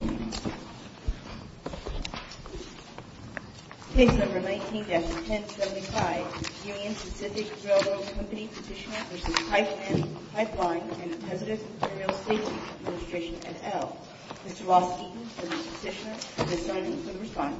Aerial Stations Administration, et al. Mr. Lawspeaker for the Petitioner and the Assembly Thank you. I'm going to respond.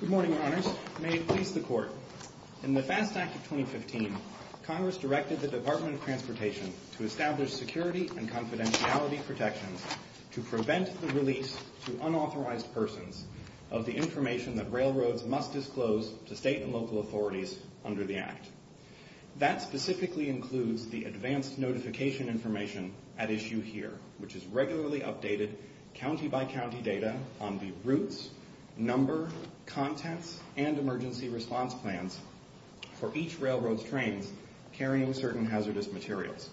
Good morning, Your Honors. May it please the Court, in the FAST Act of 2015, Congress directed the Department of Transportation to establish security and confidentiality protections to prevent the release to unauthorized persons of the information that railroads must disclose to state and local authorities under the Act. That specifically includes the advanced notification information at issue here, which is regularly updated county-by-county data on the routes, number, contents, and emergency response plans for each railroad's trains carrying certain hazardous materials.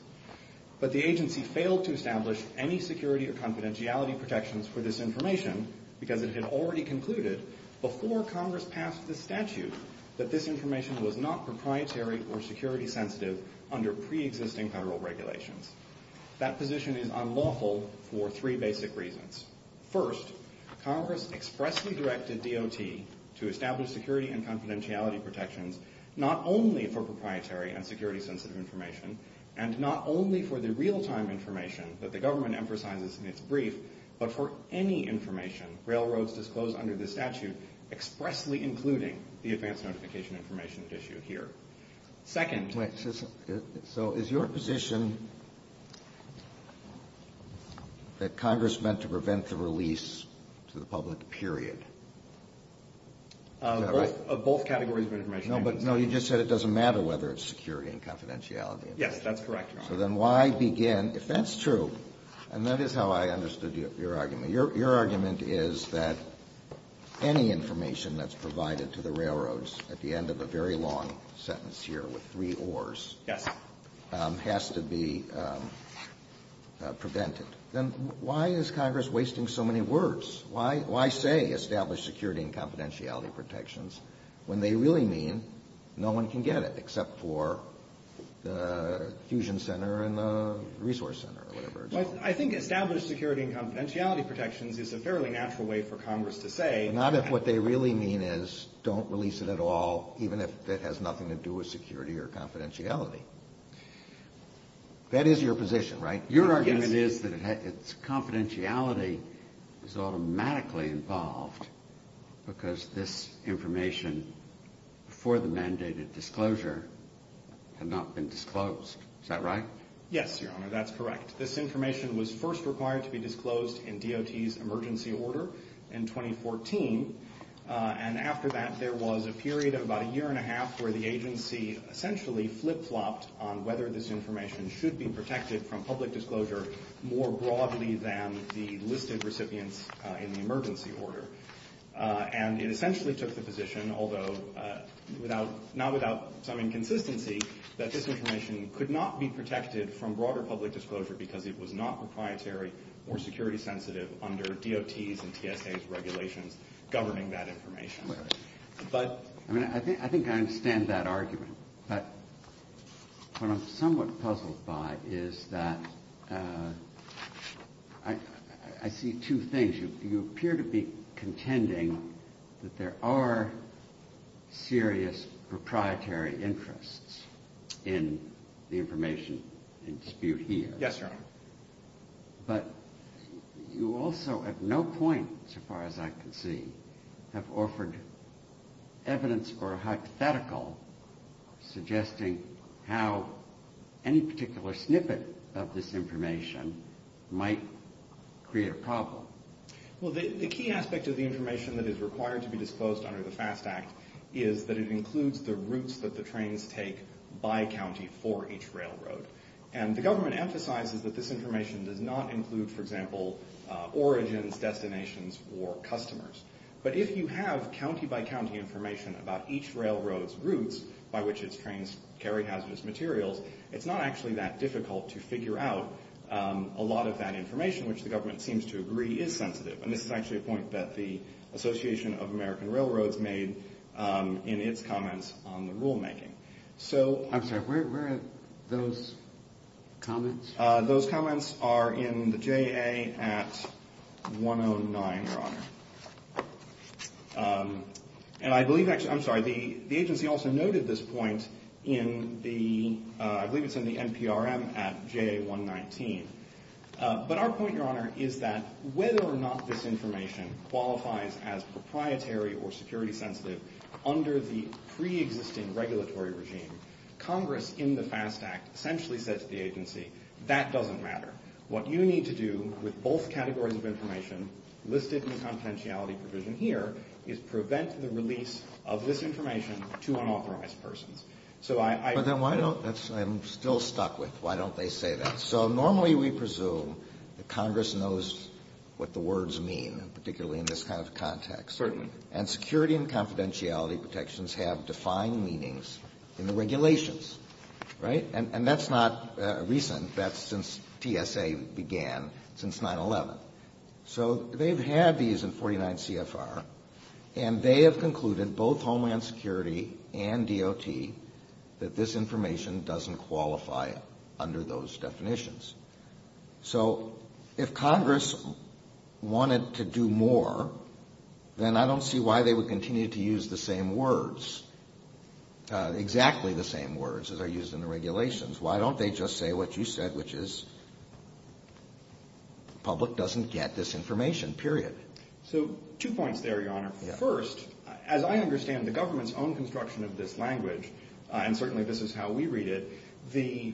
But the agency failed to establish any security or confidentiality protections for this information because it had already concluded, before Congress passed this statute, that this information was not proprietary or security-sensitive under pre-existing federal regulations. That position is unlawful for three basic reasons. First, Congress expressly directed DOT to establish security and confidentiality protections not only for proprietary and security-sensitive information, and not only for the real-time information that the government emphasizes in its brief, but for any information railroads disclose under this statute, expressly including the advanced notification information at issue here. Second. Wait, so is your position that Congress meant to prevent the release to the public, period? Is that right? Of both categories of information. No, but no, you just said it doesn't matter whether it's security and confidentiality. Yes, that's correct, Your Honor. So then why begin, if that's true, and that is how I understood your argument, your argument is that any information that's provided to the railroads at the end of a very long sentence here with three oars has to be prevented. Then why is Congress wasting so many words? Why say establish security and confidentiality protections when they really mean no one can get it except for the fusion center and the resource center or whatever? I think establish security and confidentiality protections is a fairly natural way for Congress to say. Not if what they really mean is don't release it at all, even if it has nothing to do with security or confidentiality. That is your position, right? Your argument is that it's confidentiality is automatically involved because this information for the mandated disclosure had not been disclosed. Is that right? Yes, Your Honor, that's correct. This information was first required to be disclosed in DOT's emergency order in 2014. And after that, there was a period of about a year and a half where the agency essentially flip-flopped on whether this information should be protected from public disclosure more broadly than the listed recipients in the emergency order. And it essentially took the position, although not without some inconsistency, that this information could not be protected from broader public disclosure because it was not proprietary or security sensitive under DOT's and TSA's regulations governing that information. I think I understand that argument. But what I'm somewhat puzzled by is that I see two things. You appear to be contending that there are serious proprietary interests in the information in dispute here. Yes, Your Honor. But you also, at no point so far as I can see, have offered evidence or a hypothetical suggesting how any particular snippet of this information might create a problem. Well, the key aspect of the information that is required to be disclosed under the FAST Act is that it includes the routes that the trains take by county for each railroad. And the government emphasizes that this information does not include, for example, origins, destinations, or customers. But if you have county-by-county information about each railroad's routes by which its trains carry hazardous materials, it's not actually that difficult to figure out a lot of that information, which the government seems to agree is sensitive. And this is actually a point that the Association of American Railroads made in its comments on the rulemaking. I'm sorry, where are those comments? Those comments are in the JA at 109, Your Honor. And I believe actually – I'm sorry, the agency also noted this point in the – I believe it's in the NPRM at JA 119. But our point, Your Honor, is that whether or not this information qualifies as proprietary or security sensitive under the preexisting regulatory regime, Congress in the FAST Act essentially said to the agency, that doesn't matter. What you need to do with both categories of information listed in the confidentiality provision here is prevent the release of this information to unauthorized persons. But then why don't – I'm still stuck with why don't they say that. So normally we presume that Congress knows what the words mean, particularly in this kind of context. Certainly. And security and confidentiality protections have defined meanings in the regulations, right? And that's not recent. That's since TSA began, since 9-11. So they've had these in 49 CFR, and they have concluded, both Homeland Security and DOT, that this information doesn't qualify under those definitions. So if Congress wanted to do more, then I don't see why they would continue to use the same words, exactly the same words as are used in the regulations. Why don't they just say what you said, which is public doesn't get this information, period. So two points there, Your Honor. First, as I understand the government's own construction of this language, and certainly this is how we read it, the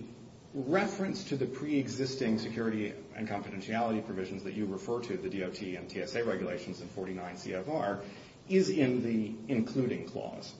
reference to the preexisting security and confidentiality provisions that you refer to, the DOT and TSA regulations in 49 CFR, is in the including clause.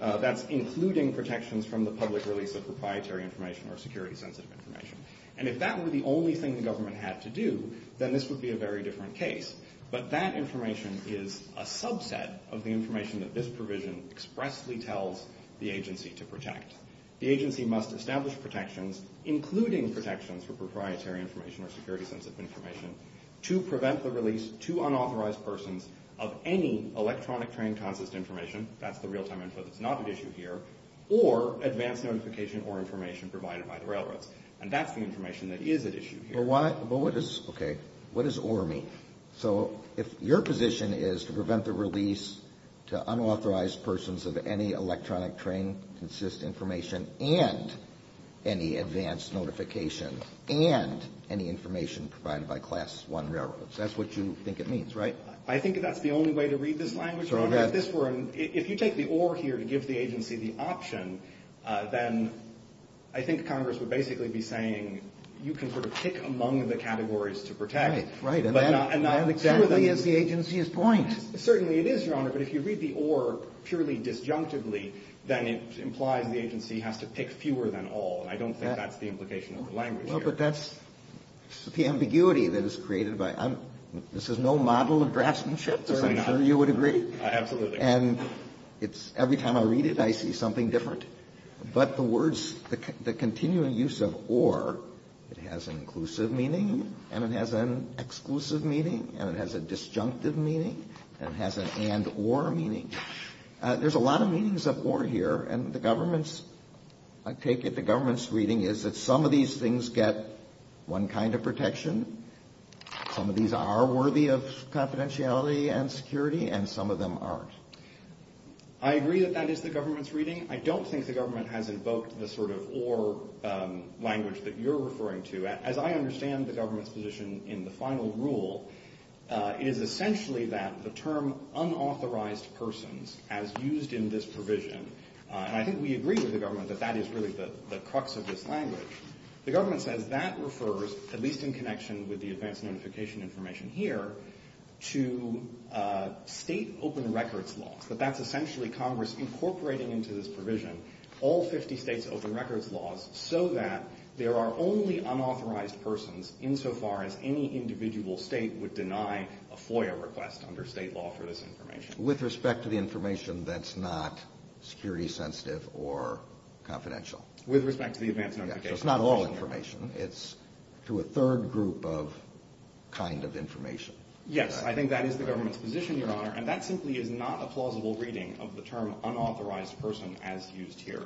That's including protections from the public release of proprietary information or security-sensitive information. And if that were the only thing the government had to do, then this would be a very different case. But that information is a subset of the information that this provision expressly tells the agency to protect. The agency must establish protections, including protections for proprietary information or security-sensitive information, to prevent the release to unauthorized persons of any electronic train consist information, that's the real-time info that's not at issue here, or advanced notification or information provided by the railroads. And that's the information that is at issue here. But what does, okay, what does or mean? So if your position is to prevent the release to unauthorized persons of any electronic train consist information and any advanced notification and any information provided by Class I railroads, that's what you think it means, right? I think that's the only way to read this language. Your Honor, if you take the or here to give the agency the option, then I think Congress would basically be saying you can sort of pick among the categories to protect. Right, right. And that exactly is the agency's point. Certainly it is, Your Honor. But if you read the or purely disjunctively, then it implies the agency has to pick fewer than all, and I don't think that's the implication of the language here. Well, but that's the ambiguity that is created by it. This is no model of draftsmanship, as I'm sure you would agree. Absolutely not. And every time I read it, I see something different. But the words, the continuing use of or, it has an inclusive meaning and it has an exclusive meaning and it has a disjunctive meaning and it has an and or meaning. There's a lot of meanings of or here, and I take it the government's reading is that some of these things get one kind of protection, some of these are worthy of confidentiality and security, and some of them aren't. I agree that that is the government's reading. I don't think the government has invoked the sort of or language that you're referring to. As I understand the government's position in the final rule, it is essentially that the term unauthorized persons, as used in this provision, and I think we agree with the government that that is really the crux of this language. The government says that refers, at least in connection with the advance notification information here, to state open records laws, that that's essentially Congress incorporating into this provision all 50 states open records laws so that there are only unauthorized persons insofar as any individual state would deny a FOIA request under state law for this information. With respect to the information that's not security sensitive or confidential. With respect to the advance notification. It's not all information. It's to a third group of kind of information. And that simply is not a plausible reading of the term unauthorized person as used here.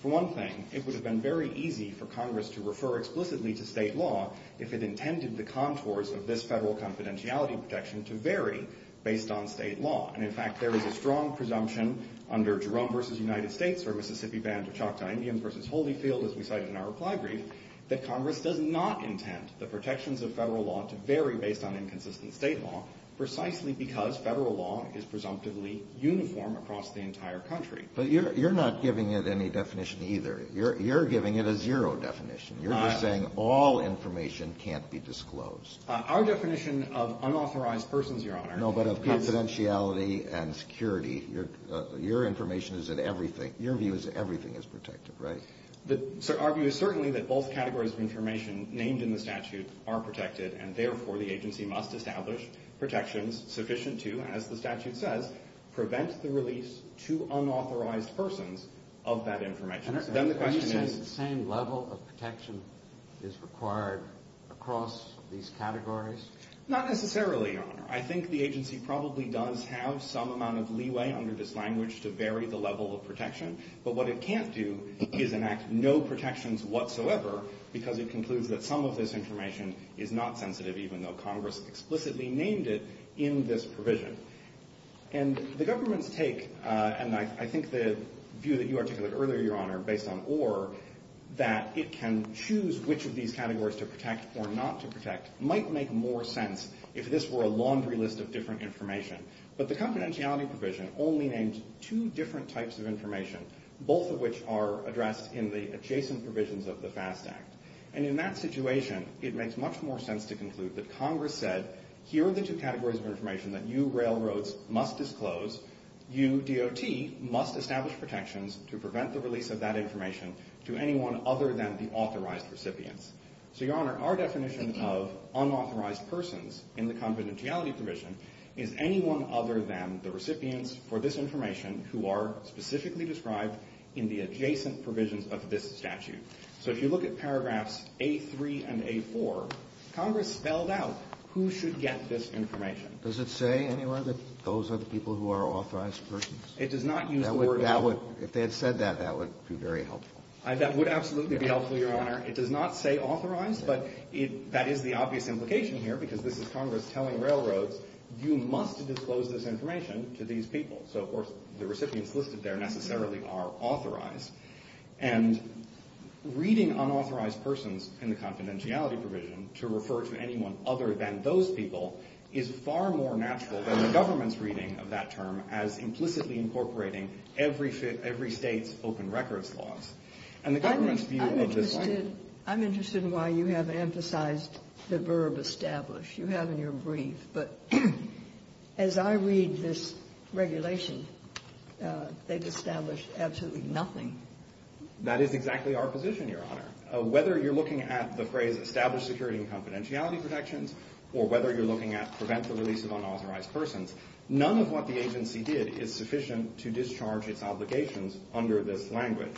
For one thing, it would have been very easy for Congress to refer explicitly to state law if it intended the contours of this federal confidentiality protection to vary based on state law. And, in fact, there is a strong presumption under Jerome v. United States or Mississippi Band of Choctaw Indians v. Holyfield, as we cited in our reply brief, that Congress does not intend the protections of federal law to vary based on inconsistent state law precisely because federal law is presumptively uniform across the entire country. But you're not giving it any definition either. You're giving it a zero definition. You're just saying all information can't be disclosed. Our definition of unauthorized persons, Your Honor. No, but of confidentiality and security. Your information is that everything, your view is that everything is protected, right? Our view is certainly that both categories of information named in the statute are protected and, therefore, the agency must establish protections sufficient to, as the statute says, prevent the release to unauthorized persons of that information. And are you saying the same level of protection is required across these categories? Not necessarily, Your Honor. I think the agency probably does have some amount of leeway under this language to vary the level of protection. But what it can't do is enact no protections whatsoever because it concludes that some of this information is not sensitive even though Congress explicitly named it in this provision. And the government's take, and I think the view that you articulated earlier, Your Honor, based on Orr, that it can choose which of these categories to protect or not to protect might make more sense if this were a laundry list of different information. But the confidentiality provision only names two different types of information, both of which are addressed in the adjacent provisions of the FAST Act. And in that situation, it makes much more sense to conclude that Congress said, here are the two categories of information that you railroads must disclose, you DOT must establish protections to prevent the release of that information to anyone other than the authorized recipients. So, Your Honor, our definition of unauthorized persons in the confidentiality provision is anyone other than the recipients for this information who are specifically described in the adjacent provisions of this statute. So if you look at paragraphs A3 and A4, Congress spelled out who should get this information. Does it say anywhere that those are the people who are authorized persons? It does not use the word authorized. If they had said that, that would be very helpful. That would absolutely be helpful, Your Honor. It does not say authorized, but that is the obvious implication here because this is Congress telling railroads you must disclose this information to these people. So, of course, the recipients listed there necessarily are authorized. And reading unauthorized persons in the confidentiality provision to refer to anyone other than those people is far more natural than the government's reading of that term as implicitly incorporating every state's open records laws. I'm interested in why you have emphasized the verb establish. You have in your brief, but as I read this regulation, they've established absolutely nothing. That is exactly our position, Your Honor. Whether you're looking at the phrase established security and confidentiality protections or whether you're looking at prevent the release of unauthorized persons, none of what the agency did is sufficient to discharge its obligations under this language.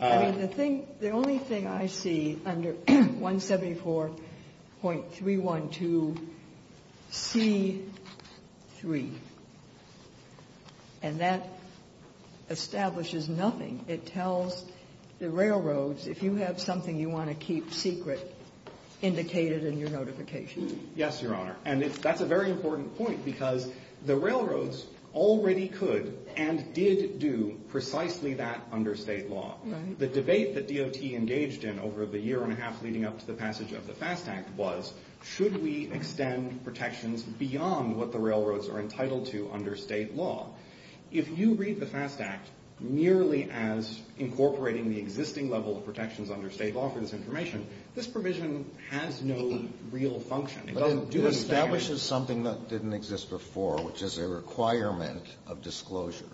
I mean, the thing the only thing I see under 174.312C3, and that establishes nothing. It tells the railroads if you have something you want to keep secret, indicate it in your notification. Yes, Your Honor. And that's a very important point because the railroads already could and did do precisely that under state law. The debate that DOT engaged in over the year and a half leading up to the passage of the FAST Act was should we extend protections beyond what the railroads are entitled to under state law? If you read the FAST Act merely as incorporating the existing level of protections under state law for this information, this provision has no real function. It establishes something that didn't exist before, which is a requirement of disclosure.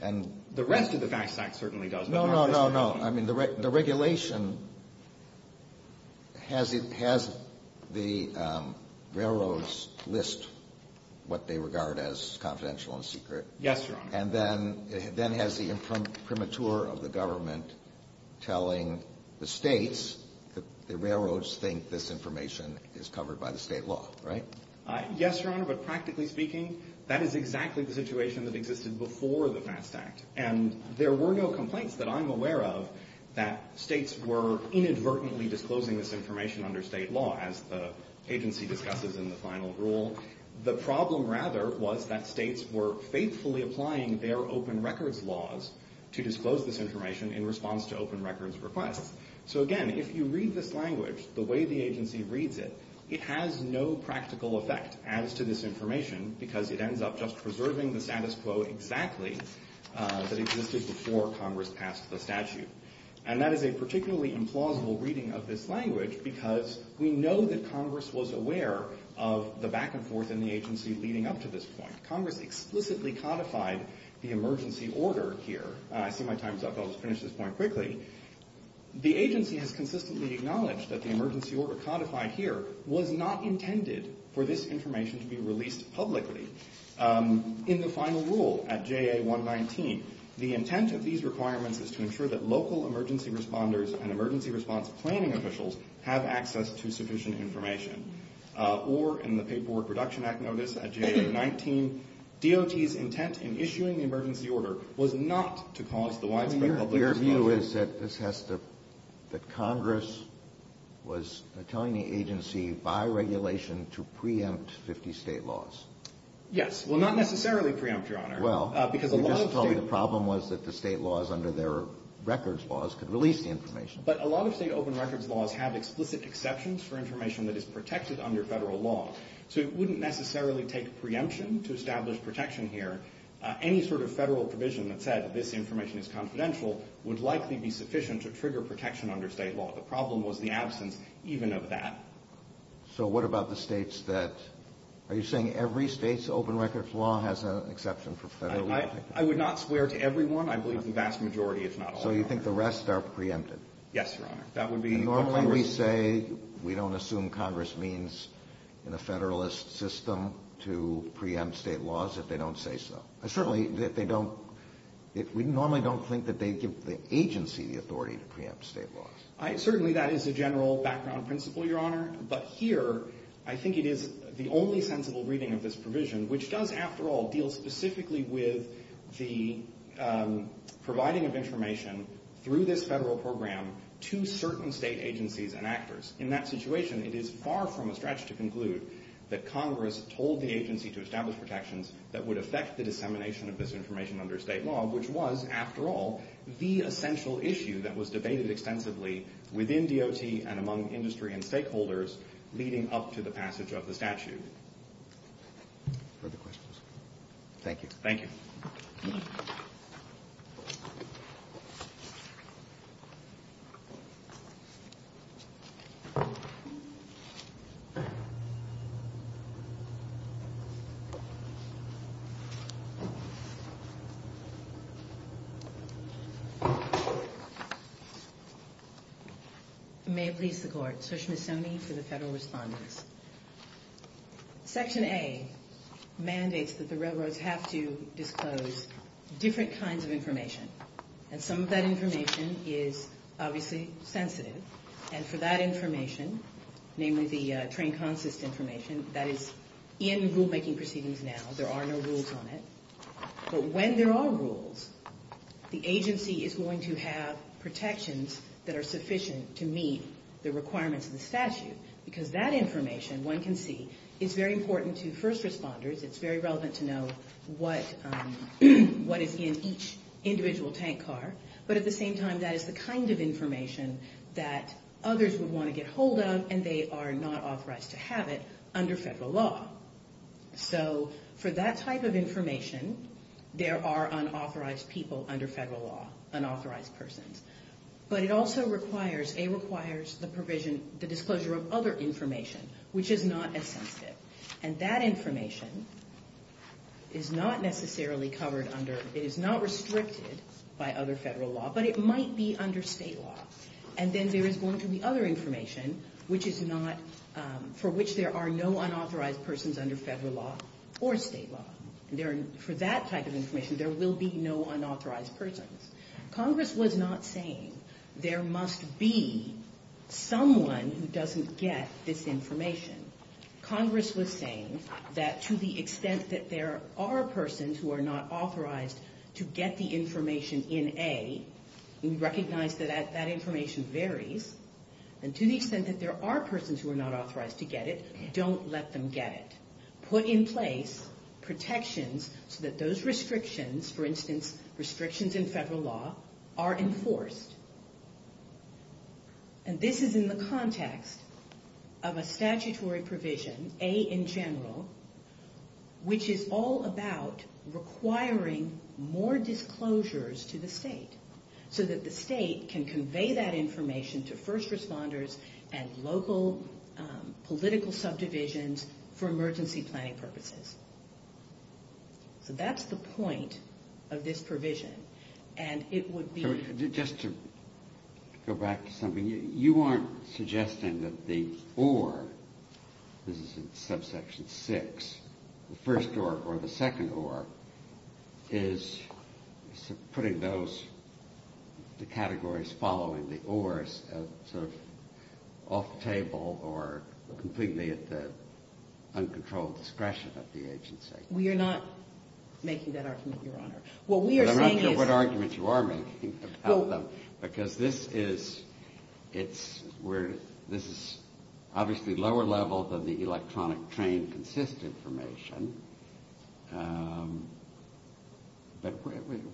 And the rest of the FAST Act certainly does. No, no, no, no. I mean, the regulation has the railroads list what they regard as confidential and secret. Yes, Your Honor. And then has the imprimatur of the government telling the States that the railroads think this information is covered by the state law, right? Yes, Your Honor. But practically speaking, that is exactly the situation that existed before the FAST Act. And there were no complaints that I'm aware of that states were inadvertently disclosing this information under state law, as the agency discusses in the final rule. The problem, rather, was that states were faithfully applying their open records laws to disclose this information in response to open records requests. So, again, if you read this language the way the agency reads it, it has no practical effect as to this information because it ends up just preserving the status quo exactly that existed before Congress passed the statute. And that is a particularly implausible reading of this language because we know that Congress was aware of the back and forth in the agency leading up to this point. Congress explicitly codified the emergency order here. I see my time's up. I'll just finish this point quickly. The agency has consistently acknowledged that the emergency order codified here was not intended for this information to be released publicly. In the final rule at JA119, the intent of these requirements is to ensure that local emergency responders and emergency response planning officials have access to sufficient information. Or in the Paperwork Reduction Act notice at JA119, DOT's intent in issuing the emergency order was not to cause the widespread public disclosure. Your view is that this has to – that Congress was telling the agency by regulation to preempt 50 State laws? Well, not necessarily preempt, Your Honor. Well, you just told me the problem was that the State laws under their records laws could release the information. But a lot of State open records laws have explicit exceptions for information that is protected under Federal law. So it wouldn't necessarily take preemption to establish protection here. Any sort of Federal provision that said this information is confidential would likely be sufficient to trigger protection under State law. The problem was the absence even of that. So what about the States that – are you saying every State's open records law has an exception for Federal law? I would not swear to every one. I believe the vast majority is not open. So you think the rest are preempted? Yes, Your Honor. Normally we say we don't assume Congress means in a Federalist system to preempt State laws if they don't say so. Certainly they don't – we normally don't think that they give the agency the authority to preempt State laws. Certainly that is a general background principle, Your Honor. But here I think it is the only sensible reading of this provision, which does, after all, deal specifically with the providing of information through this Federal program to certain State agencies and actors. In that situation, it is far from a stretch to conclude that Congress told the agency to establish protections that would affect the dissemination of this information under State law, which was, after all, the essential issue that was debated extensively within DOT and among industry and stakeholders leading up to the passage of the statute. Further questions? Thank you. Thank you. May it please the Court. Sushma Soni for the Federal Respondents. Section A mandates that the railroads have to disclose different kinds of information. And some of that information is obviously sensitive. And for that information, namely the train consist information, that is in rulemaking proceedings now. There are no rules on it. But when there are rules, the agency is going to have protections that are sufficient to meet the requirements of the statute because that information, one can see, is very important to first responders. It's very relevant to know what is in each individual tank car. But at the same time, that is the kind of information that others would want to get hold of, and they are not authorized to have it under Federal law. So for that type of information, there are unauthorized people under Federal law, unauthorized persons. But it also requires, A, requires the provision, the disclosure of other information, which is not as sensitive. And that information is not necessarily covered under, it is not restricted by other Federal law, but it might be under State law. And then there is going to be other information which is not, for which there are no unauthorized persons under Federal law or State law. For that type of information, there will be no unauthorized persons. Congress was not saying there must be someone who doesn't get this information. Congress was saying that to the extent that there are persons who are not authorized to get the information in A, we recognize that that information varies. And to the extent that there are persons who are not authorized to get it, don't let them get it. Put in place protections so that those restrictions, for instance, restrictions in Federal law, are enforced. And this is in the context of a statutory provision, A in general, which is all about requiring more disclosures to the State, so that the State can convey that information to first responders and local political subdivisions for emergency planning purposes. So that's the point of this provision. So just to go back to something, you aren't suggesting that the OR, this is in subsection 6, the first OR or the second OR, is putting those, the categories following the ORs, sort of off the table or completely at the uncontrolled discretion of the agency? We are not making that argument, Your Honor. But I'm not sure what argument you are making about them. Because this is, it's where, this is obviously lower level than the electronic train consistent information. But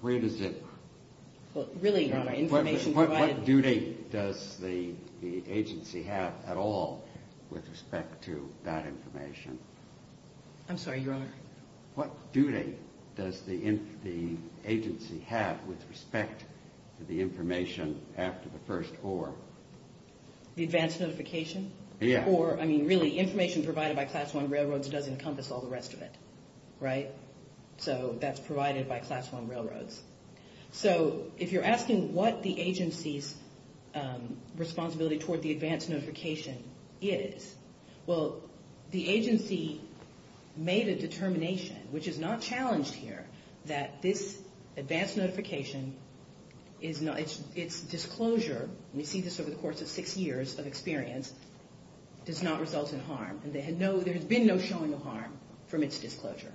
where does it? Well, really, Your Honor, information provided. What duty does the agency have at all with respect to that information? I'm sorry, Your Honor. What duty does the agency have with respect to the information after the first OR? The advance notification? Yeah. Or, I mean, really, information provided by Class I railroads doesn't encompass all the rest of it. Right? So that's provided by Class I railroads. So if you're asking what the agency's responsibility toward the advance notification is, well, the agency made a determination, which is not challenged here, that this advance notification, its disclosure, and we see this over the course of six years of experience, does not result in harm. There has been no showing of harm from its disclosure.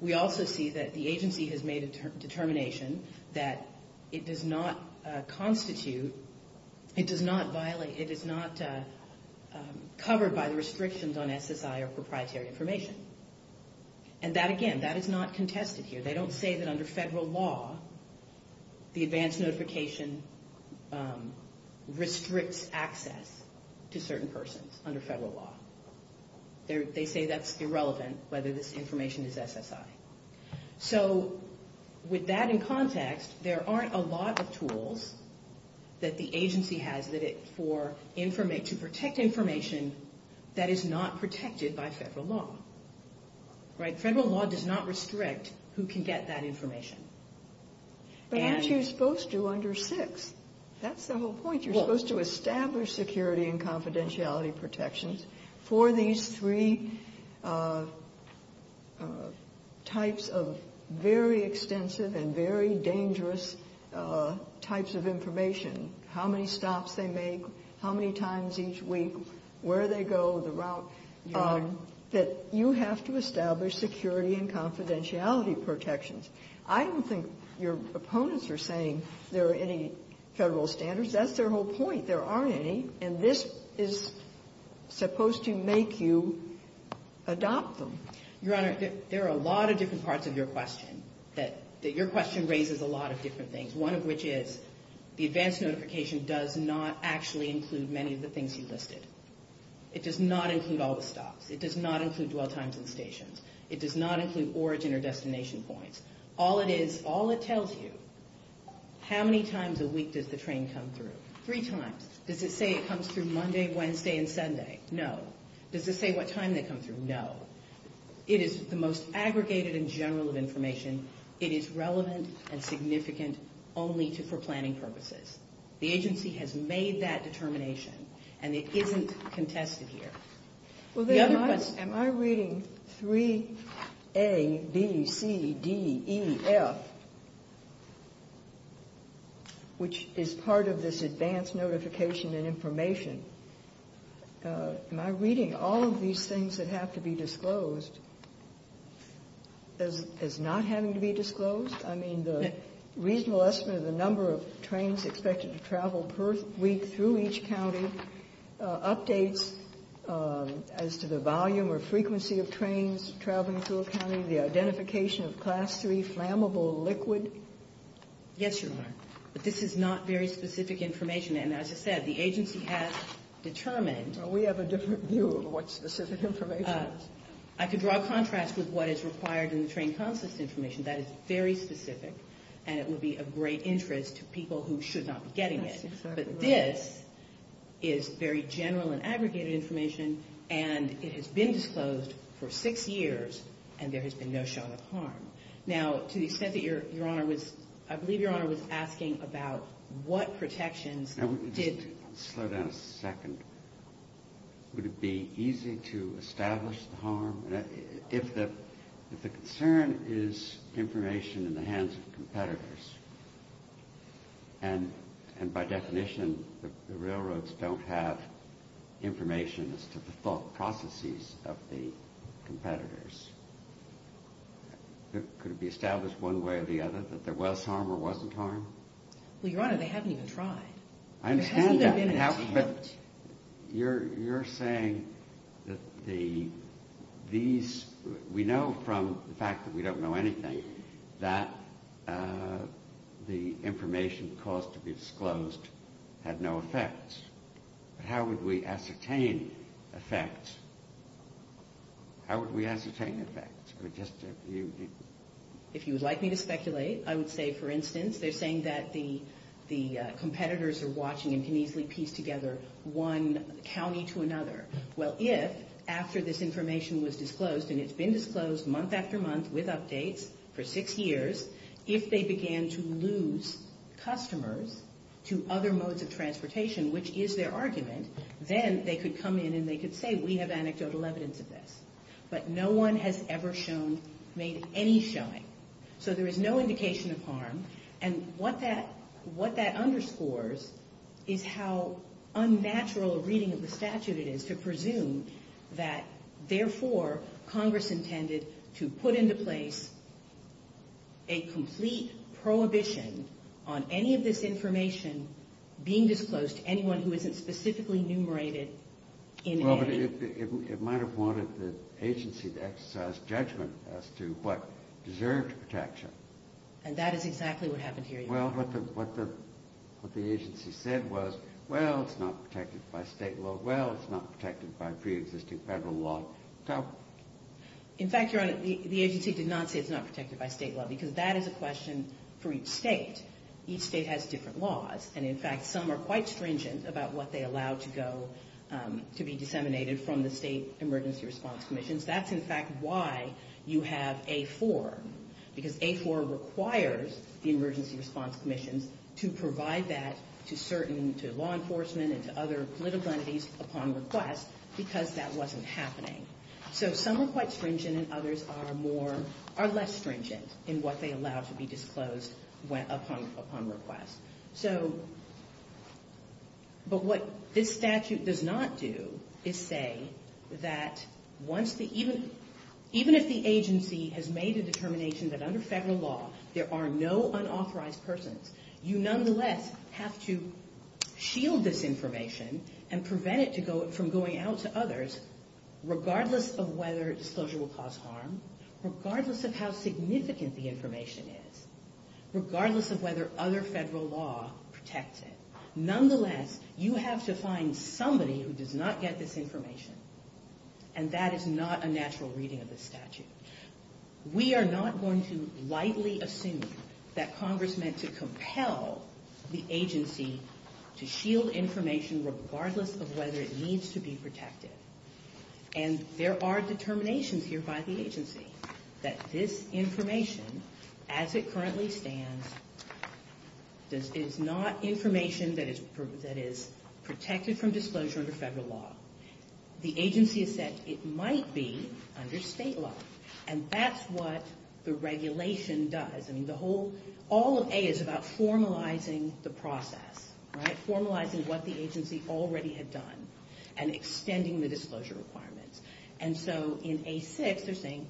We also see that the agency has made a determination that it does not constitute, it does not violate, it is not covered by the restrictions on SSI or proprietary information. And that, again, that is not contested here. They don't say that under federal law, the advance notification restricts access to certain persons under federal law. They say that's irrelevant, whether this information is SSI. So with that in context, there aren't a lot of tools that the agency has to protect information that is not protected by federal law. Right? Federal law does not restrict who can get that information. But aren't you supposed to under six? That's the whole point. You're supposed to establish security and confidentiality protections for these three types of very extensive and very dangerous types of information. How many stops they make, how many times each week, where they go, the route, that you have to establish security and confidentiality protections. I don't think your opponents are saying there are any federal standards. That's their whole point. There aren't any. And this is supposed to make you adopt them. Your Honor, there are a lot of different parts of your question, that your question raises a lot of different things, one of which is the advance notification does not actually include many of the things you listed. It does not include all the stops. It does not include dwell times and stations. It does not include origin or destination points. All it is, all it tells you, how many times a week does the train come through? Three times. Does it say it comes through Monday, Wednesday, and Sunday? No. Does it say what time they come through? No. It is the most aggregated and general of information. It is relevant and significant only for planning purposes. The agency has made that determination, and it isn't contested here. Am I reading 3A, B, C, D, E, F, which is part of this advance notification and information, am I reading all of these things that have to be disclosed as not having to be disclosed? I mean, the reasonable estimate of the number of trains expected to travel per week through each county, updates as to the volume or frequency of trains traveling through a county, the identification of Class III flammable liquid. Yes, Your Honor. But this is not very specific information, and as I said, the agency has determined. Well, we have a different view of what specific information is. I could draw a contrast with what is required in the train consist information. That is very specific, and it would be of great interest to people who should not be getting it. But this is very general and aggregated information, and it has been disclosed for six years, and there has been no shot of harm. Now, to the extent that Your Honor was, I believe Your Honor was asking about what protections did. Slow down a second. Would it be easy to establish the harm? If the concern is information in the hands of competitors, and by definition the railroads don't have information as to the thought processes of the competitors, could it be established one way or the other that there was harm or wasn't harm? Well, Your Honor, they haven't even tried. I understand that. But you're saying that we know from the fact that we don't know anything that the information caused to be disclosed had no effect. How would we ascertain effect? How would we ascertain effect? If you would like me to speculate, I would say, for instance, they're saying that the competitors are watching and can easily piece together one county to another. Well, if after this information was disclosed, and it's been disclosed month after month with updates for six years, if they began to lose customers to other modes of transportation, which is their argument, then they could come in and they could say, we have anecdotal evidence of this. But no one has ever shown, made any showing. So there is no indication of harm. And what that underscores is how unnatural a reading of the statute it is to presume that, therefore, Congress intended to put into place a complete prohibition on any of this information being disclosed to anyone who isn't specifically numerated in A. It might have wanted the agency to exercise judgment as to what deserved protection. And that is exactly what happened here. Well, what the agency said was, well, it's not protected by State law. Well, it's not protected by preexisting Federal law. In fact, Your Honor, the agency did not say it's not protected by State law because that is a question for each State. Each State has different laws. And, in fact, some are quite stringent about what they allow to go, to be disseminated from the State Emergency Response Commissions. That's, in fact, why you have A-4. Because A-4 requires the Emergency Response Commissions to provide that to law enforcement and to other political entities upon request because that wasn't happening. So some are quite stringent and others are less stringent in what they allow to be disclosed upon request. So, but what this statute does not do is say that even if the agency has made a determination that under Federal law there are no unauthorized persons, you nonetheless have to shield this information and prevent it from going out to others regardless of whether disclosure will cause harm, regardless of how significant the information is, regardless of whether other Federal law protects it. Nonetheless, you have to find somebody who does not get this information. And that is not a natural reading of this statute. We are not going to lightly assume that Congress meant to compel the agency to shield information regardless of whether it needs to be protected. And there are determinations here by the agency that this information, as it currently stands, is not information that is protected from disclosure under Federal law. The agency has said it might be under State law. And that's what the regulation does. I mean, the whole, all of A is about formalizing the process, right, extending the disclosure requirements. And so in A6 they're saying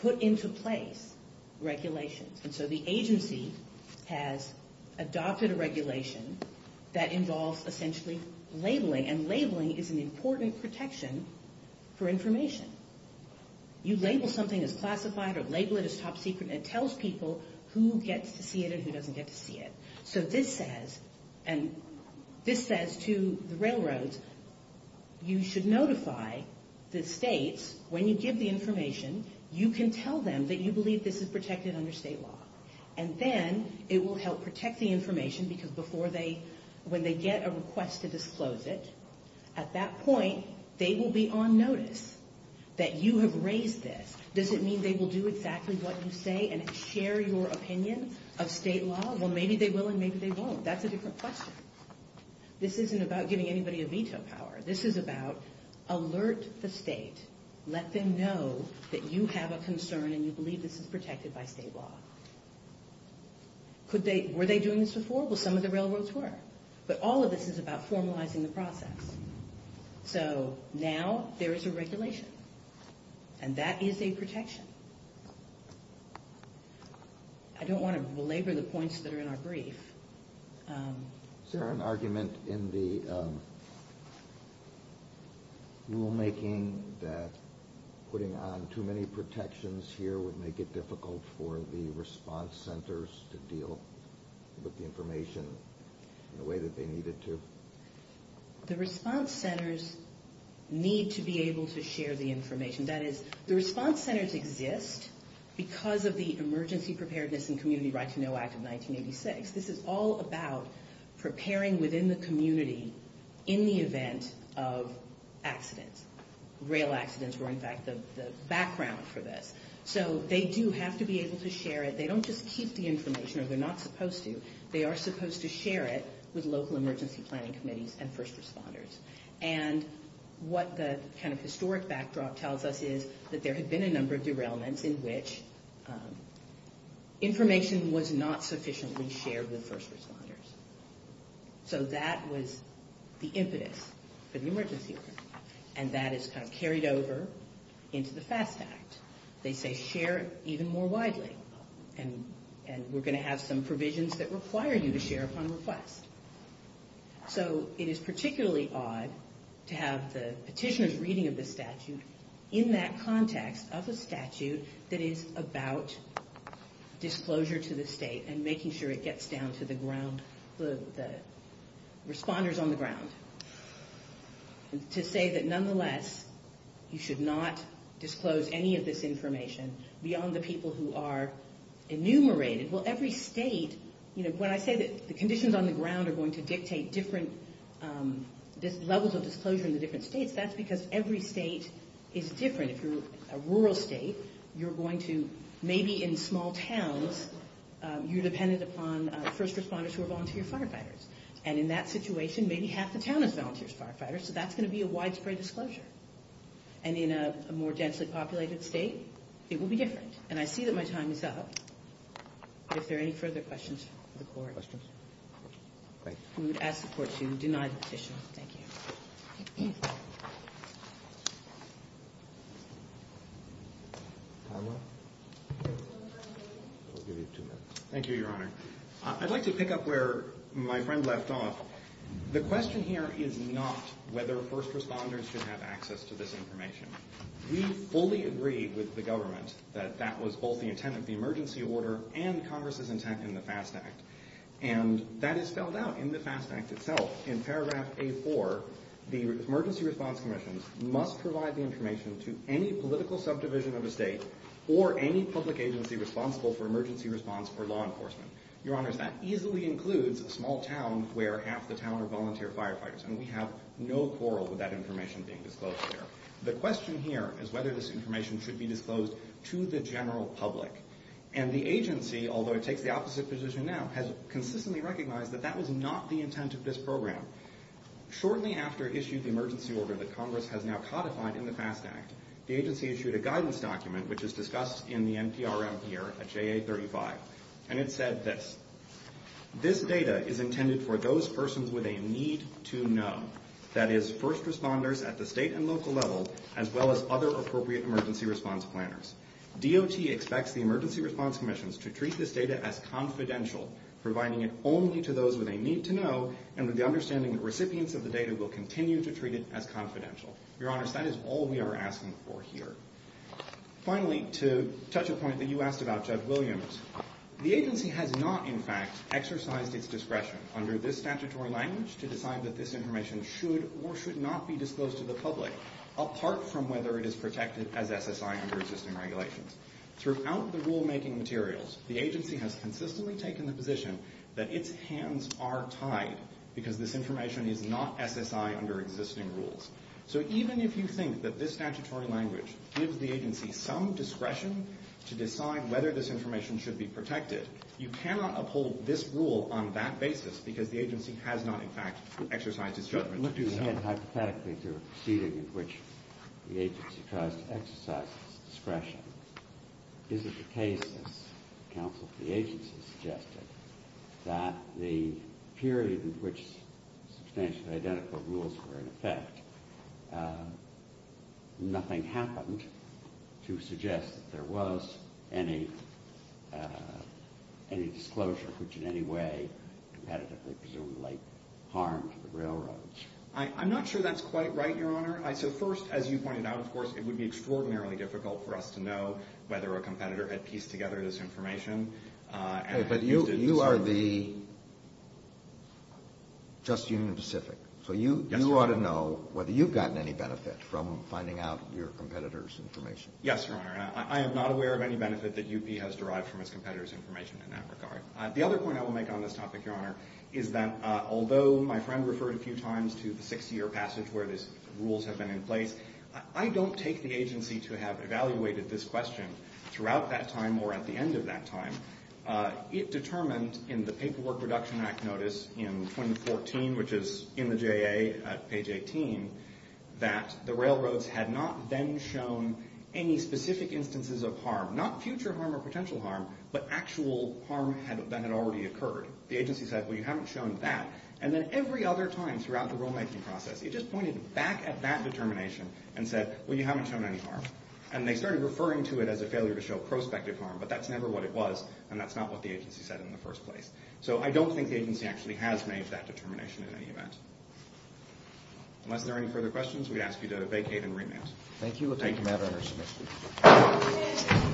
put into place regulations. And so the agency has adopted a regulation that involves essentially labeling. And labeling is an important protection for information. You label something as classified or label it as top secret, and it tells people who gets to see it and who doesn't get to see it. So this says, and this says to the railroads, you should notify the states when you give the information, you can tell them that you believe this is protected under State law. And then it will help protect the information because before they, when they get a request to disclose it, at that point they will be on notice that you have raised this. Does it mean they will do exactly what you say and share your opinion of State law? Well, maybe they will and maybe they won't. That's a different question. This isn't about giving anybody a veto power. This is about alert the state. Let them know that you have a concern and you believe this is protected by State law. Could they, were they doing this before? Well, some of the railroads were. But all of this is about formalizing the process. So now there is a regulation. And that is a protection. I don't want to belabor the points that are in our brief. Is there an argument in the rulemaking that putting on too many protections here would make it difficult for the response centers to deal with the information in the way that they needed to? The response centers need to be able to share the information. That is, the response centers exist because of the Emergency Preparedness and Community Right to Know Act of 1986. This is all about preparing within the community in the event of accidents. Rail accidents were, in fact, the background for this. So they do have to be able to share it. They don't just keep the information, or they're not supposed to. They are supposed to share it with local emergency planning committees and first responders. And what the kind of historic backdrop tells us is that there had been a number of derailments in which information was not sufficiently shared with first responders. So that was the impetus for the emergency plan. And that is kind of carried over into the FAST Act. They say share even more widely. And we're going to have some provisions that require you to share upon request. So it is particularly odd to have the petitioner's reading of the statute in that context of a statute that is about disclosure to the state and making sure it gets down to the responders on the ground. To say that, nonetheless, you should not disclose any of this information beyond the people who are enumerated. Well, every state, when I say that the conditions on the ground are going to dictate different levels of disclosure in the different states, that's because every state is different. If you're a rural state, you're going to maybe in small towns, you're dependent upon first responders who are volunteer firefighters. And in that situation, maybe half the town is volunteer firefighters. So that's going to be a widespread disclosure. And in a more densely populated state, it will be different. And I see that my time is up. If there are any further questions for the court, we would ask the court to deny the petition. Thank you. Thank you, Your Honor. I'd like to pick up where my friend left off. The question here is not whether first responders should have access to this information. We fully agree with the government that that was both the intent of the emergency order and Congress's intent in the FAST Act. And that is spelled out in the FAST Act itself. In paragraph A-4, the emergency response commissions must provide the information to any political subdivision of a state or any public agency responsible for emergency response or law enforcement. Your Honor, that easily includes a small town where half the town are volunteer firefighters. And we have no quarrel with that information being disclosed there. The question here is whether this information should be disclosed to the general public. And the agency, although it takes the opposite position now, has consistently recognized that that was not the intent of this program. Shortly after it issued the emergency order that Congress has now codified in the FAST Act, the agency issued a guidance document, which is discussed in the NPRM here at JA35. And it said this. This data is intended for those persons with a need to know, that is, first responders at the state and local level, as well as other appropriate emergency response planners. DOT expects the emergency response commissions to treat this data as confidential, providing it only to those where they need to know and with the understanding that recipients of the data will continue to treat it as confidential. Your Honor, that is all we are asking for here. Finally, to touch a point that you asked about, Judge Williams, the agency has not, in fact, exercised its discretion under this statutory language to decide that this information should or should not be disclosed to the public, apart from whether it is protected as SSI under existing regulations. Throughout the rulemaking materials, the agency has consistently taken the position that its hands are tied because this information is not SSI under existing rules. So even if you think that this statutory language gives the agency some discretion to decide whether this information should be protected, you cannot uphold this rule on that basis because the agency has not, in fact, exercised its judgment to do so. Looking ahead hypothetically to a proceeding in which the agency tries to exercise its discretion, is it the case, as counsel to the agency suggested, that nothing happened to suggest that there was any disclosure which in any way competitively presumably harmed the railroads? I'm not sure that's quite right, Your Honor. So first, as you pointed out, of course, it would be extraordinarily difficult for us to know whether a competitor had pieced together this information. But you are the just Union Pacific. So you ought to know whether you've gotten any benefit from finding out your competitor's information. Yes, Your Honor. I am not aware of any benefit that UP has derived from its competitor's information in that regard. The other point I will make on this topic, Your Honor, is that although my friend referred a few times to the six-year passage where these rules have been in place, I don't take the agency to have evaluated this question throughout that time or at the end of that time. It determined in the Paperwork Reduction Act notice in 2014, which is in the JA at page 18, that the railroads had not then shown any specific instances of harm, not future harm or potential harm, but actual harm that had already occurred. The agency said, well, you haven't shown that. And then every other time throughout the rulemaking process, it just pointed back at that determination and said, well, you haven't shown any harm. And they started referring to it as a failure to show prospective harm, but that's never what it was, and that's not what the agency said in the first place. So I don't think the agency actually has made that determination in any event. Unless there are any further questions, we ask you to vacate and remand. Thank you. Thank you, Madam Undersecretary.